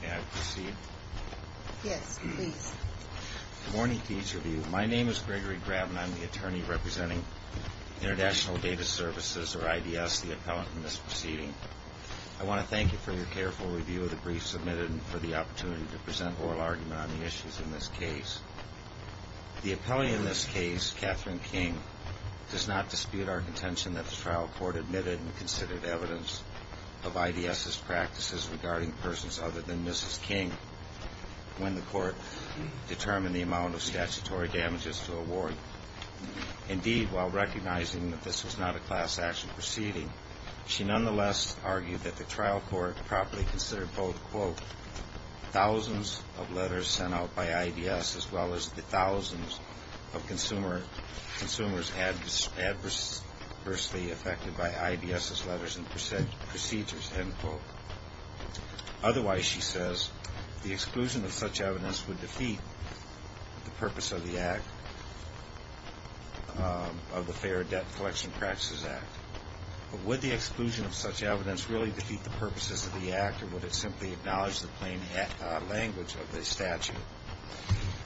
May I proceed? Yes, please. Good morning to each of you. My name is Gregory Graben. I'm the attorney representing International Data Services, or IDS, the appellant in this proceeding. I want to thank you for your careful review of the brief submitted and for the opportunity to present oral argument on the issues in this case. The appellee in this case, Catherine King, does not dispute our contention that the trial court admitted and considered evidence of IDS's practices regarding persons other than Mrs. King when the court determined the amount of statutory damages to award. Indeed, while recognizing that this was not a class action proceeding, she nonetheless argued that the trial court properly considered both, quote, thousands of letters sent out by IDS as well as the thousands of consumers adversely affected by IDS's letters and procedures, end quote. Otherwise, she says, the exclusion of such evidence would defeat the purpose of the Act, of the Fair Debt Collection Practices Act. But would the exclusion of such evidence really defeat the purposes of the Act, or would it simply acknowledge the plain language of the statute?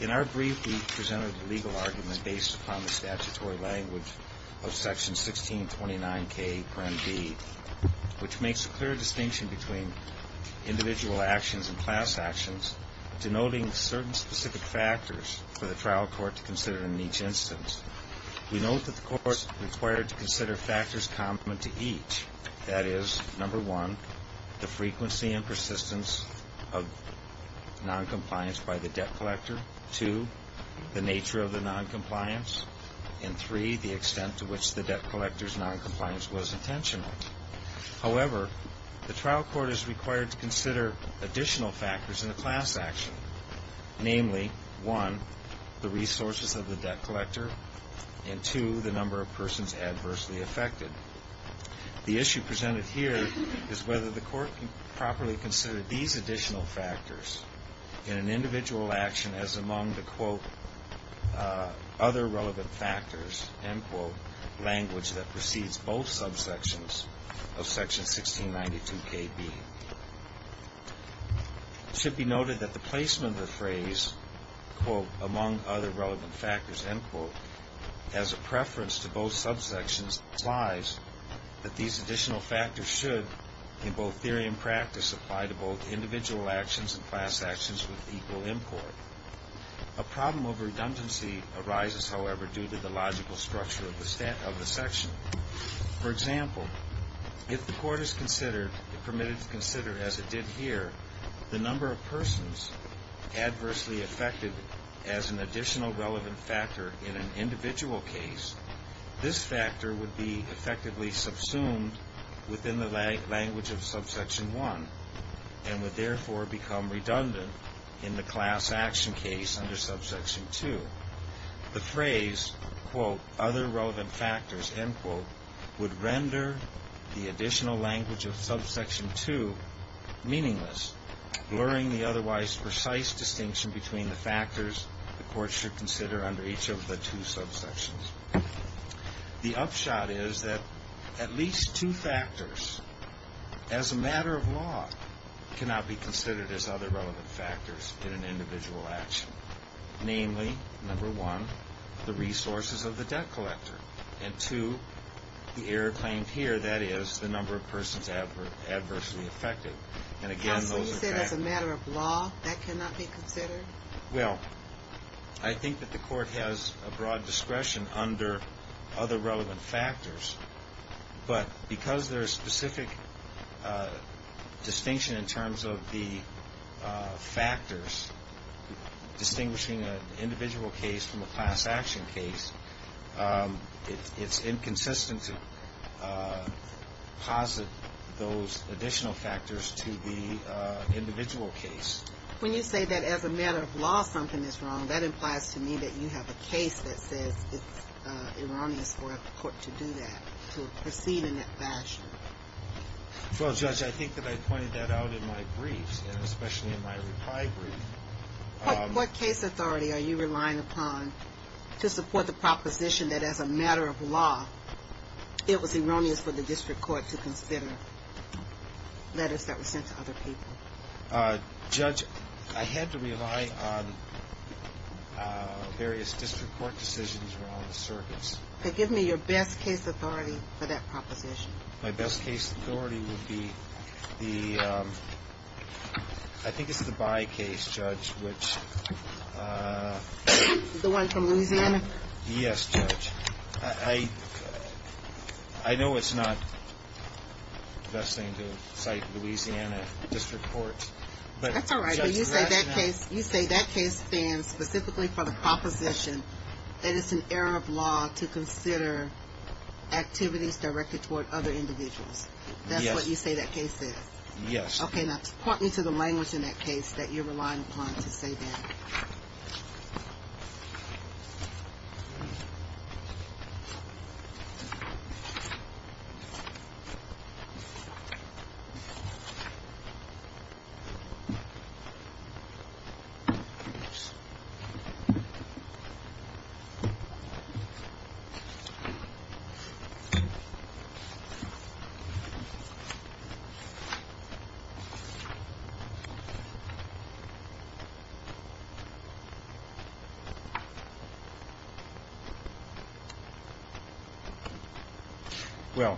In our brief, we presented a legal argument based upon the statutory language of section 1629K, which makes a clear distinction between individual actions and class actions, denoting certain specific factors for the trial court to consider in each instance. We note that the court is required to consider factors complement to each. That is, number one, the frequency and persistence of noncompliance by the debt collector, two, the nature of the noncompliance, and three, the extent to which the debt collector's noncompliance was intentional. However, the trial court is required to consider additional factors in the class action, namely, one, the resources of the debt collector, and two, the number of persons adversely affected. The issue presented here is whether the court can properly consider these additional factors in an individual action as among the, quote, other relevant factors, end quote, language that precedes both subsections of section 1692KB. It should be noted that the placement of the phrase, quote, among other relevant factors, end quote, as a preference to both subsections implies that these additional factors should, in both theory and practice, apply to both individual actions and class actions with equal import. A problem of redundancy arises, however, due to the logical structure of the section. For example, if the court is permitted to consider, as it did here, the number of persons adversely affected as an additional relevant factor in an individual case, this factor would be effectively subsumed within the language of subsection 1 and would therefore become redundant in the class action case under subsection 2. The phrase, quote, other relevant factors, end quote, would render the additional language of subsection 2 meaningless, blurring the otherwise precise distinction between the factors the court should consider under each of the two subsections. The upshot is that at least two factors, as a matter of law, cannot be considered as other relevant factors in an individual action, namely, number one, the resources of the debt collector, and two, the error claimed here, that is, the number of persons adversely affected. And again, those are factors. So you said, as a matter of law, that cannot be considered? Well, I think that the court has a broad discretion under other relevant factors, but because there is specific distinction in terms of the factors, distinguishing an individual case from a class action case, it's inconsistent to posit those additional factors to the individual case. When you say that, as a matter of law, something is wrong, that implies to me that you have a case that says it's erroneous for a court to do that, to proceed in that fashion. Well, Judge, I think that I pointed that out in my briefs, and especially in my reply brief. What case authority are you relying upon to support the proposition that, as a matter of law, it was erroneous for the district court to consider letters that were sent to other people? Judge, I had to rely on various district court decisions around the circuits. Okay. Give me your best case authority for that proposition. My best case authority would be the, I think it's the Bayh case, Judge, which... The one from Louisiana? Yes, Judge. I know it's not the best thing to cite Louisiana district courts, but... That's all right, but you say that case stands specifically for the proposition that it's an error of law to consider activities directed toward other individuals. That's what you say that case is? Yes. Okay, now point me to the language in that case that you're relying upon to say that. Okay. Well,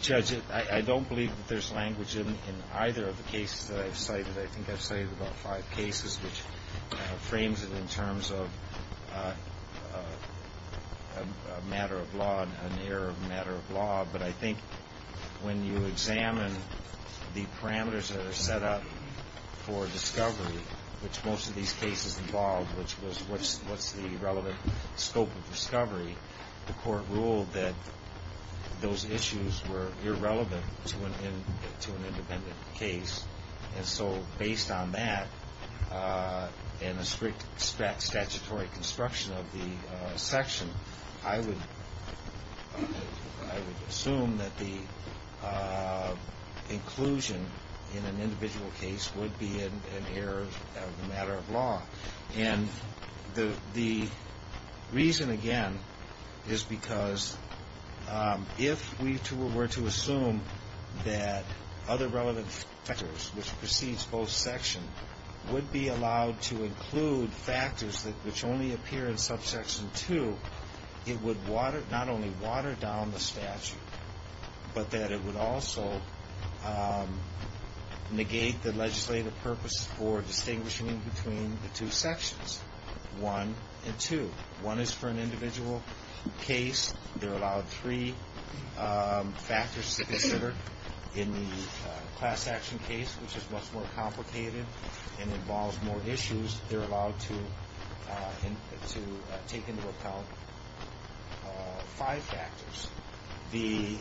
Judge, I don't believe that there's language in either of the cases that I've cited. I think I've cited about five cases, which frames it in terms of a matter of law, an error of a matter of law, but I think when you examine the parameters that are set up for discovery, which most of these cases involve, which was what's the relevant scope of discovery, the court ruled that those issues were irrelevant to an independent case. And so based on that and a strict statutory construction of the section, I would assume that the inclusion in an individual case would be an error of a matter of law. And the reason, again, is because if we were to assume that other relevant factors, which precedes both sections, would be allowed to include factors which only appear in subsection 2, it would not only water down the statute, but that it would also negate the legislative purpose for distinguishing between the two sections, 1 and 2. 1 is for an individual case. They're allowed three factors to consider in the class action case, which is much more complicated and involves more issues. They're allowed to take into account five factors. The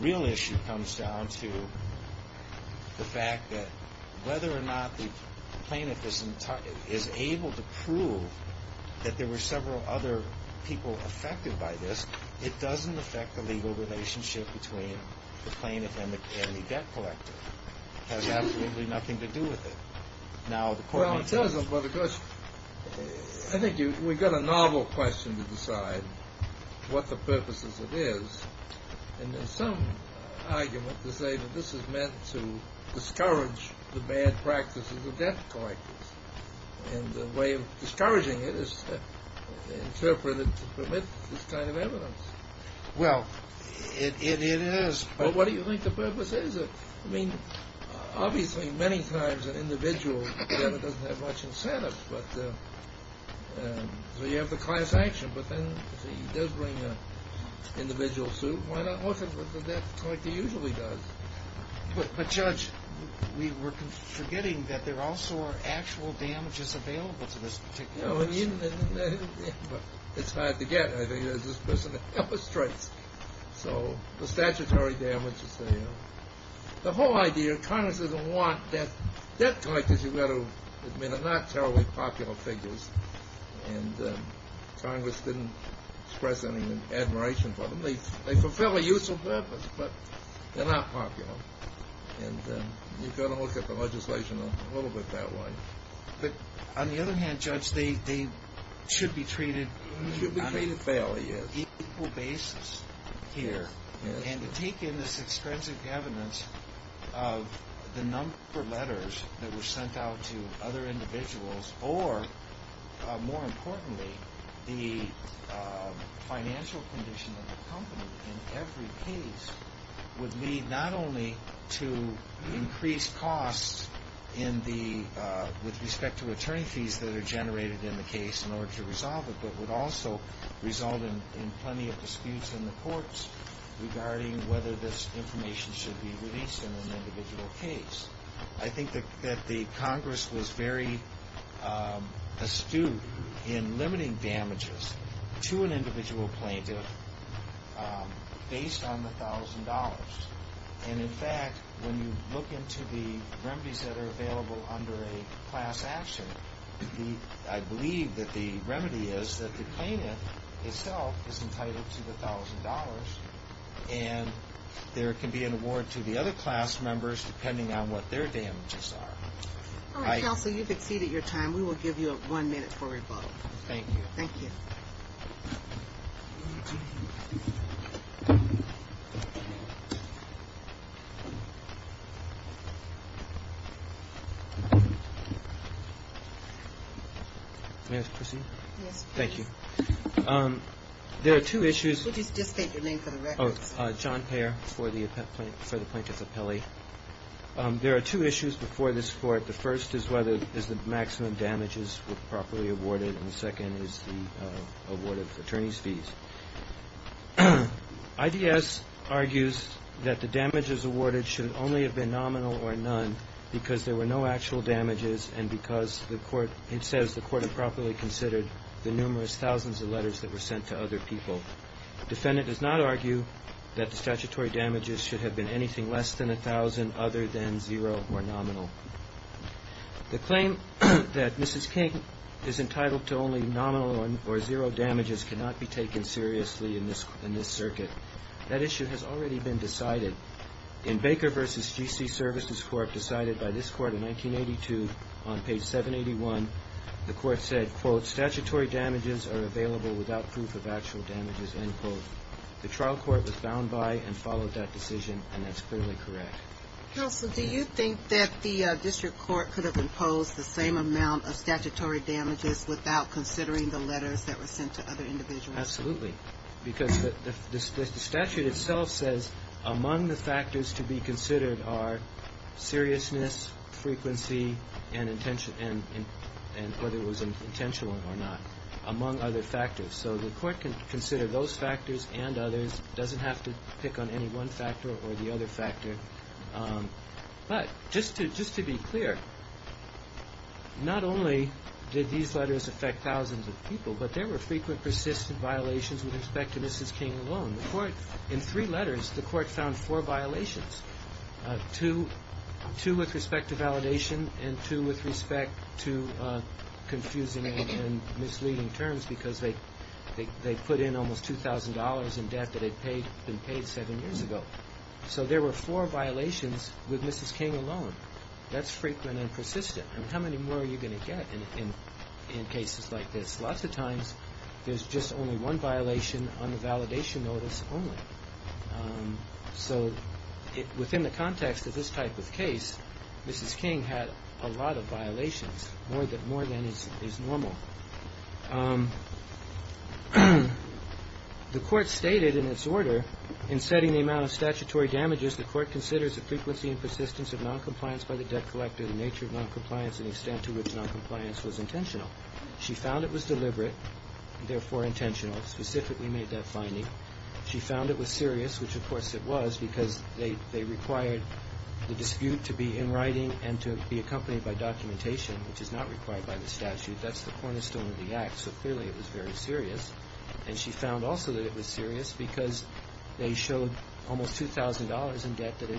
real issue comes down to the fact that whether or not the plaintiff is able to prove that there were several other people affected by this, it doesn't affect the legal relationship between the plaintiff and the debt collector. It has absolutely nothing to do with it. Well, it doesn't, but of course, I think we've got a novel question to decide what the purpose is. And there's some argument to say that this is meant to discourage the bad practices of debt collectors. And the way of discouraging it is to interpret it to permit this kind of evidence. Well, it is. But what do you think the purpose is? I mean, obviously, many times an individual debtor doesn't have much incentive. So you have the class action, but then he does bring an individual suit. Why not look at what the debt collector usually does? But, Judge, we were forgetting that there also are actual damages available to this particular person. It's hard to get. I think this just illustrates. So the statutory damages, the whole idea, Congress doesn't want debt collectors. You've got to admit they're not terribly popular figures. And Congress didn't express any admiration for them. They fulfill a useful purpose, but they're not popular. And you've got to look at the legislation a little bit that way. But on the other hand, Judge, they should be treated on an equal basis. And to take in this extrinsic evidence of the number of letters that were sent out to other individuals or, more importantly, the financial condition of the company in every case would lead not only to increased costs with respect to return fees that are generated in the case in order to resolve it, but would also result in plenty of disputes in the courts regarding whether this information should be released in an individual case. I think that the Congress was very astute in limiting damages to an individual plaintiff based on the $1,000. And, in fact, when you look into the remedies that are available under a class action, I believe that the remedy is that the plaintiff himself is entitled to the $1,000. And there can be an award to the other class members depending on what their damages are. All right, counsel, you've exceeded your time. We will give you one minute for rebuttal. Thank you. Thank you. May I proceed? Yes, please. Thank you. There are two issues. Could you just state your name for the record? John Payer for the plaintiff's appellee. There are two issues before this Court. The first is whether the maximum damages were properly awarded, and the second is the award of attorney's fees. IDS argues that the damages awarded should only have been nominal or none because there were no actual damages and because the Court says the Court improperly considered the numerous thousands of letters that were sent to other people. The defendant does not argue that the statutory damages should have been anything less than $1,000 other than zero or nominal. The claim that Mrs. King is entitled to only nominal or zero damages cannot be taken seriously in this circuit. That issue has already been decided. In Baker v. G.C. Services Court decided by this Court in 1982 on page 781, the Court said, quote, statutory damages are available without proof of actual damages, end quote. The trial court was found by and followed that decision, and that's clearly correct. Counsel, do you think that the district court could have imposed the same amount of statutory damages without considering the letters that were sent to other individuals? Absolutely. Because the statute itself says among the factors to be considered are seriousness, frequency, and whether it was intentional or not, among other factors. So the Court can consider those factors and others. It doesn't have to pick on any one factor or the other factor. But just to be clear, not only did these letters affect thousands of people, but there were frequent, persistent violations with respect to Mrs. King alone. In three letters, the Court found four violations, two with respect to validation and two with respect to confusing and misleading terms, because they put in almost $2,000 in debt that had been paid seven years ago. So there were four violations with Mrs. King alone. That's frequent and persistent. I mean, how many more are you going to get in cases like this? Lots of times there's just only one violation on the validation notice only. So within the context of this type of case, Mrs. King had a lot of violations, more than is normal. The Court stated in its order, in setting the amount of statutory damages, the Court considers the frequency and persistence of noncompliance by the debt collector, the nature of noncompliance, and the extent to which noncompliance was intentional. She found it was deliberate, therefore intentional, specifically made that finding. She found it was serious, which of course it was, because they required the dispute to be in writing and to be accompanied by documentation, which is not required by the statute. That's the cornerstone of the Act, so clearly it was very serious. And she found also that it was serious because they showed almost $2,000 in debt that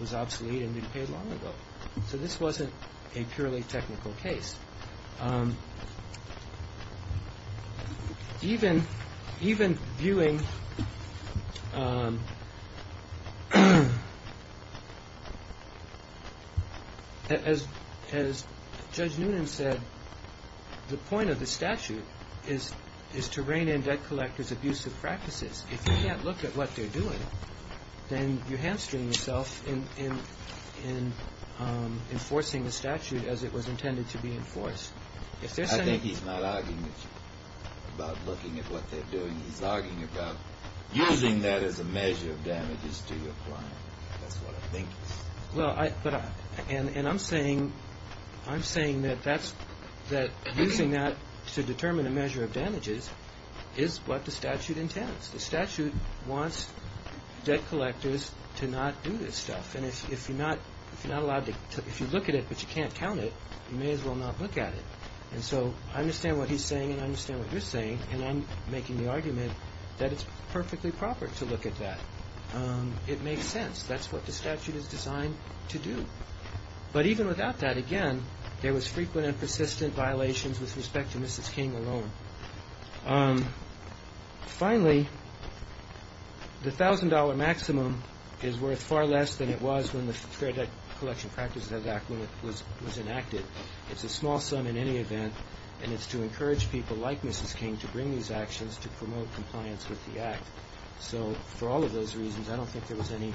was obsolete and had been paid long ago. So this wasn't a purely technical case. Even viewing, as Judge Noonan said, the point of the statute is to rein in debt collectors' abusive practices. If you can't look at what they're doing, then you hamstring yourself in enforcing the statute as it was intended to be enforced. If there's any ---- I think he's not arguing about looking at what they're doing. He's arguing about using that as a measure of damages to your client. That's what I think. Well, I ---- and I'm saying that that's ---- that using that to determine a measure of damages is what the statute intends. The statute wants debt collectors to not do this stuff. And if you're not allowed to ---- if you look at it but you can't count it, you may as well not look at it. And so I understand what he's saying and I understand what you're saying, and I'm making the argument that it's perfectly proper to look at that. It makes sense. That's what the statute is designed to do. But even without that, again, there was frequent and persistent violations with respect to Mrs. King alone. Finally, the $1,000 maximum is worth far less than it was when the Fair Debt Collection Practices Act was enacted. It's a small sum in any event, and it's to encourage people like Mrs. King to bring these actions to promote compliance with the Act. So for all of those reasons, I don't think there was any ----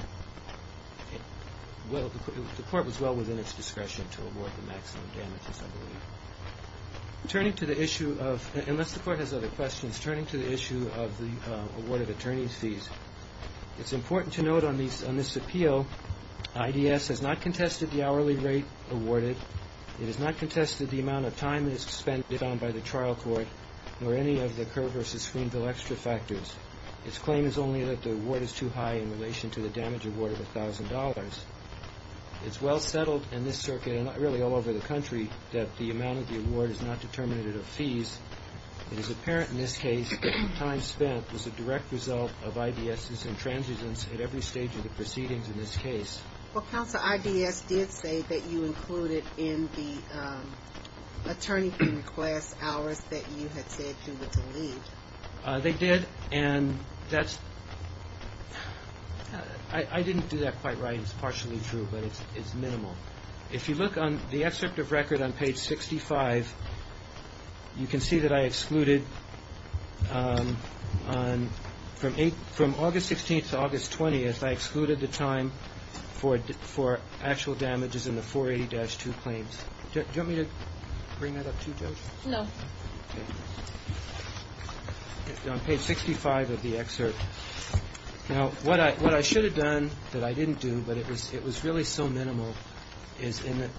Turning to the issue of ---- unless the Court has other questions, turning to the issue of the awarded attorney's fees, it's important to note on this appeal, IDS has not contested the hourly rate awarded. It has not contested the amount of time that is spent on by the trial court or any of the Kerr v. Greenville extra factors. Its claim is only that the award is too high in relation to the damage award of $1,000. It's well settled in this circuit and really all over the country that the amount of the award is not determinative of fees. It is apparent in this case that the time spent was a direct result of IDS's intransigence at every stage of the proceedings in this case. Well, Counsel, IDS did say that you included in the attorney fee request hours that you had said you were to leave. They did, and that's ---- I didn't do that quite right. It's partially true, but it's minimal. If you look on the excerpt of record on page 65, you can see that I excluded from August 16th to August 20th, I excluded the time for actual damages in the 480-2 claims. Do you want me to bring that up to you, Judge? No. Okay. On page 65 of the excerpt. Now, what I should have done that I didn't do, but it was really so minimal is in the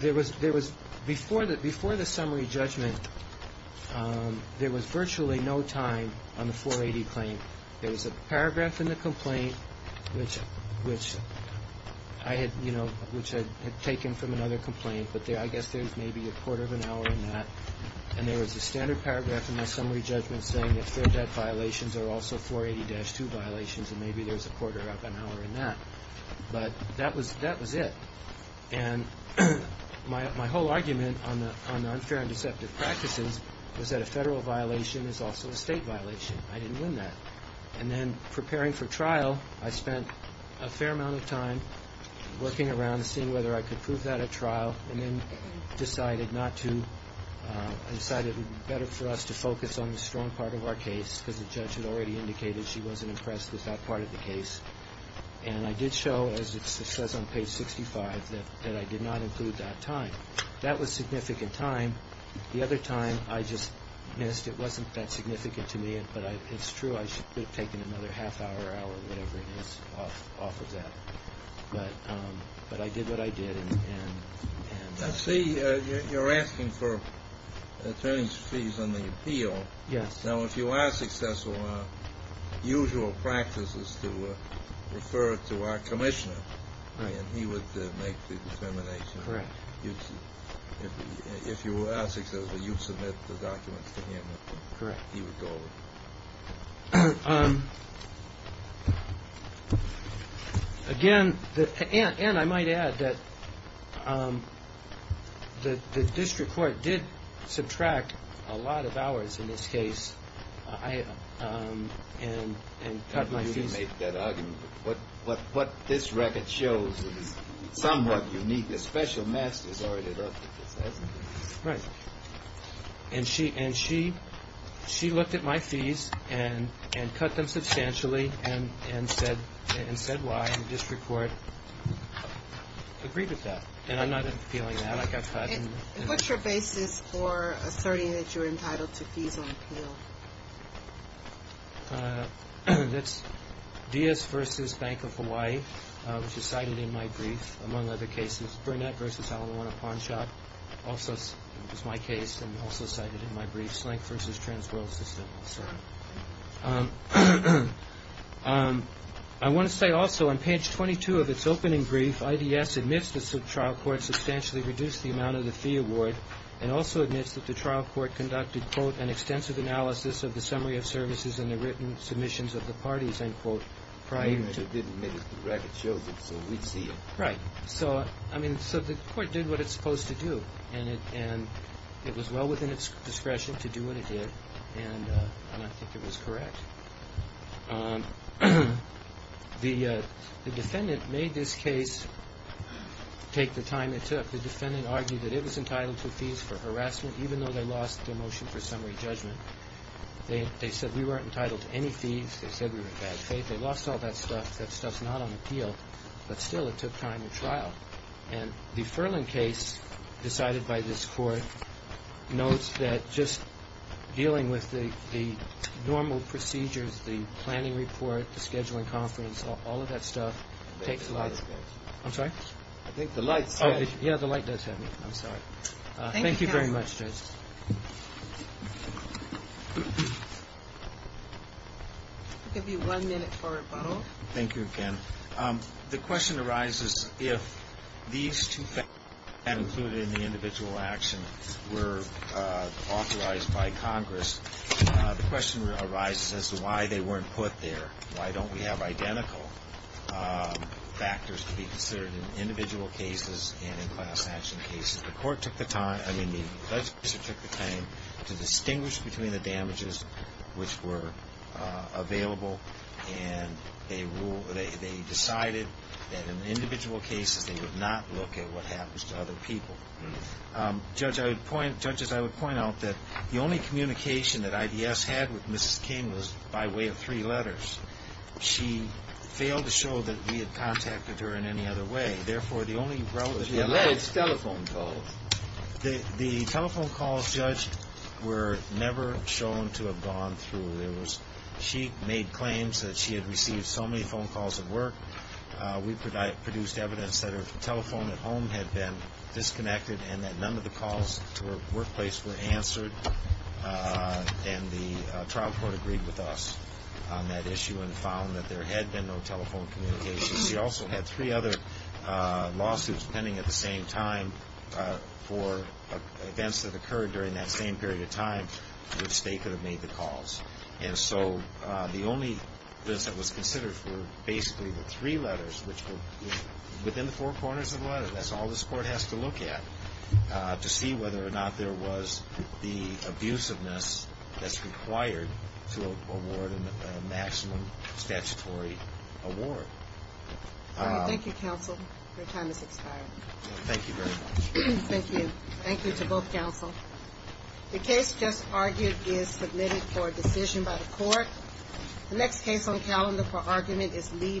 ---- there was before the summary judgment, there was virtually no time on the 480 claim. There was a paragraph in the complaint, which I had taken from another complaint, but I guess there was maybe a quarter of an hour in that, and there was a standard paragraph in the summary judgment saying that fair debt violations are also 480-2 violations, and maybe there was a quarter of an hour in that. But that was it. And my whole argument on the unfair and deceptive practices was that a federal violation is also a state violation. I didn't win that. And then preparing for trial, I spent a fair amount of time working around, seeing whether I could prove that at trial, and then decided not to ---- decided it would be better for us to focus on the strong part of our case because the judge had already indicated she wasn't impressed with that part of the case. And I did show, as it says on page 65, that I did not include that time. That was significant time. The other time I just missed. It wasn't that significant to me, but it's true. I should have taken another half hour, hour, whatever it is, off of that. But I did what I did. I see you're asking for attorney's fees on the appeal. Yes. Now, if you are successful, our usual practice is to refer it to our commissioner. Right. And he would make the determination. Correct. If you are successful, you submit the documents to him. Correct. He would go over them. Again, Ann, I might add that the district court did subtract a lot of hours in this case and cut my fees. You make that argument. What this record shows is somewhat unique. The special masters ordered it up. Right. And she looked at my fees and cut them substantially and said why. And the district court agreed with that. And I'm not appealing that. I got cut. What's your basis for asserting that you're entitled to fees on appeal? That's Diaz v. Bank of Hawaii, which is cited in my brief, among other cases. Burnett v. Alawana Pawn Shop also is my case and also cited in my brief. Slank v. Transworld Systems. I want to say also on page 22 of its opening brief, IDS admits the trial court substantially reduced the amount of the fee award and also admits that the trial court conducted, quote, an extensive analysis of the summary of services and the written submissions of the parties, end quote, prior to. It did admit it. The record shows it, so we see it. Right. So, I mean, so the court did what it's supposed to do. And it was well within its discretion to do what it did. And I think it was correct. The defendant made this case take the time it took. The defendant argued that it was entitled to fees for harassment, even though they lost their motion for summary judgment. They said we weren't entitled to any fees. They said we were in bad faith. They lost all that stuff. That stuff's not on appeal. But, still, it took time to trial. And the Furlan case decided by this court notes that just dealing with the normal procedures, the planning report, the scheduling conference, all of that stuff takes a lot of time. I'm sorry? I think the light's heavy. Yeah, the light does have me. I'm sorry. Thank you very much, Judge. I'll give you one minute for rebuttal. Thank you, Ken. The question arises, if these two factors, not included in the individual action, were authorized by Congress, the question arises as to why they weren't put there. Why don't we have identical factors to be considered in individual cases and in class action cases? The court took the time to distinguish between the damages which were available, and they decided that in individual cases they would not look at what happens to other people. Judges, I would point out that the only communication that IDS had with Mrs. King was by way of three letters. She failed to show that we had contacted her in any other way. Therefore, the only relevant evidence. She alleged telephone calls. The telephone calls, Judge, were never shown to have gone through. She made claims that she had received so many phone calls at work. We produced evidence that her telephone at home had been disconnected and that none of the calls to her workplace were answered. And the trial court agreed with us on that issue and found that there had been no telephone communication. She also had three other lawsuits pending at the same time for events that occurred during that same period of time in which they could have made the calls. And so the only list that was considered were basically the three letters, which were within the four corners of the letter. That's all this court has to look at to see whether or not there was the abusiveness that's required to award a maximum statutory award. Thank you, counsel. Your time has expired. Thank you very much. Thank you. Thank you to both counsel. The case just argued is submitted for decision by the court. The next case on calendar for argument is Lee v. Ashcroft.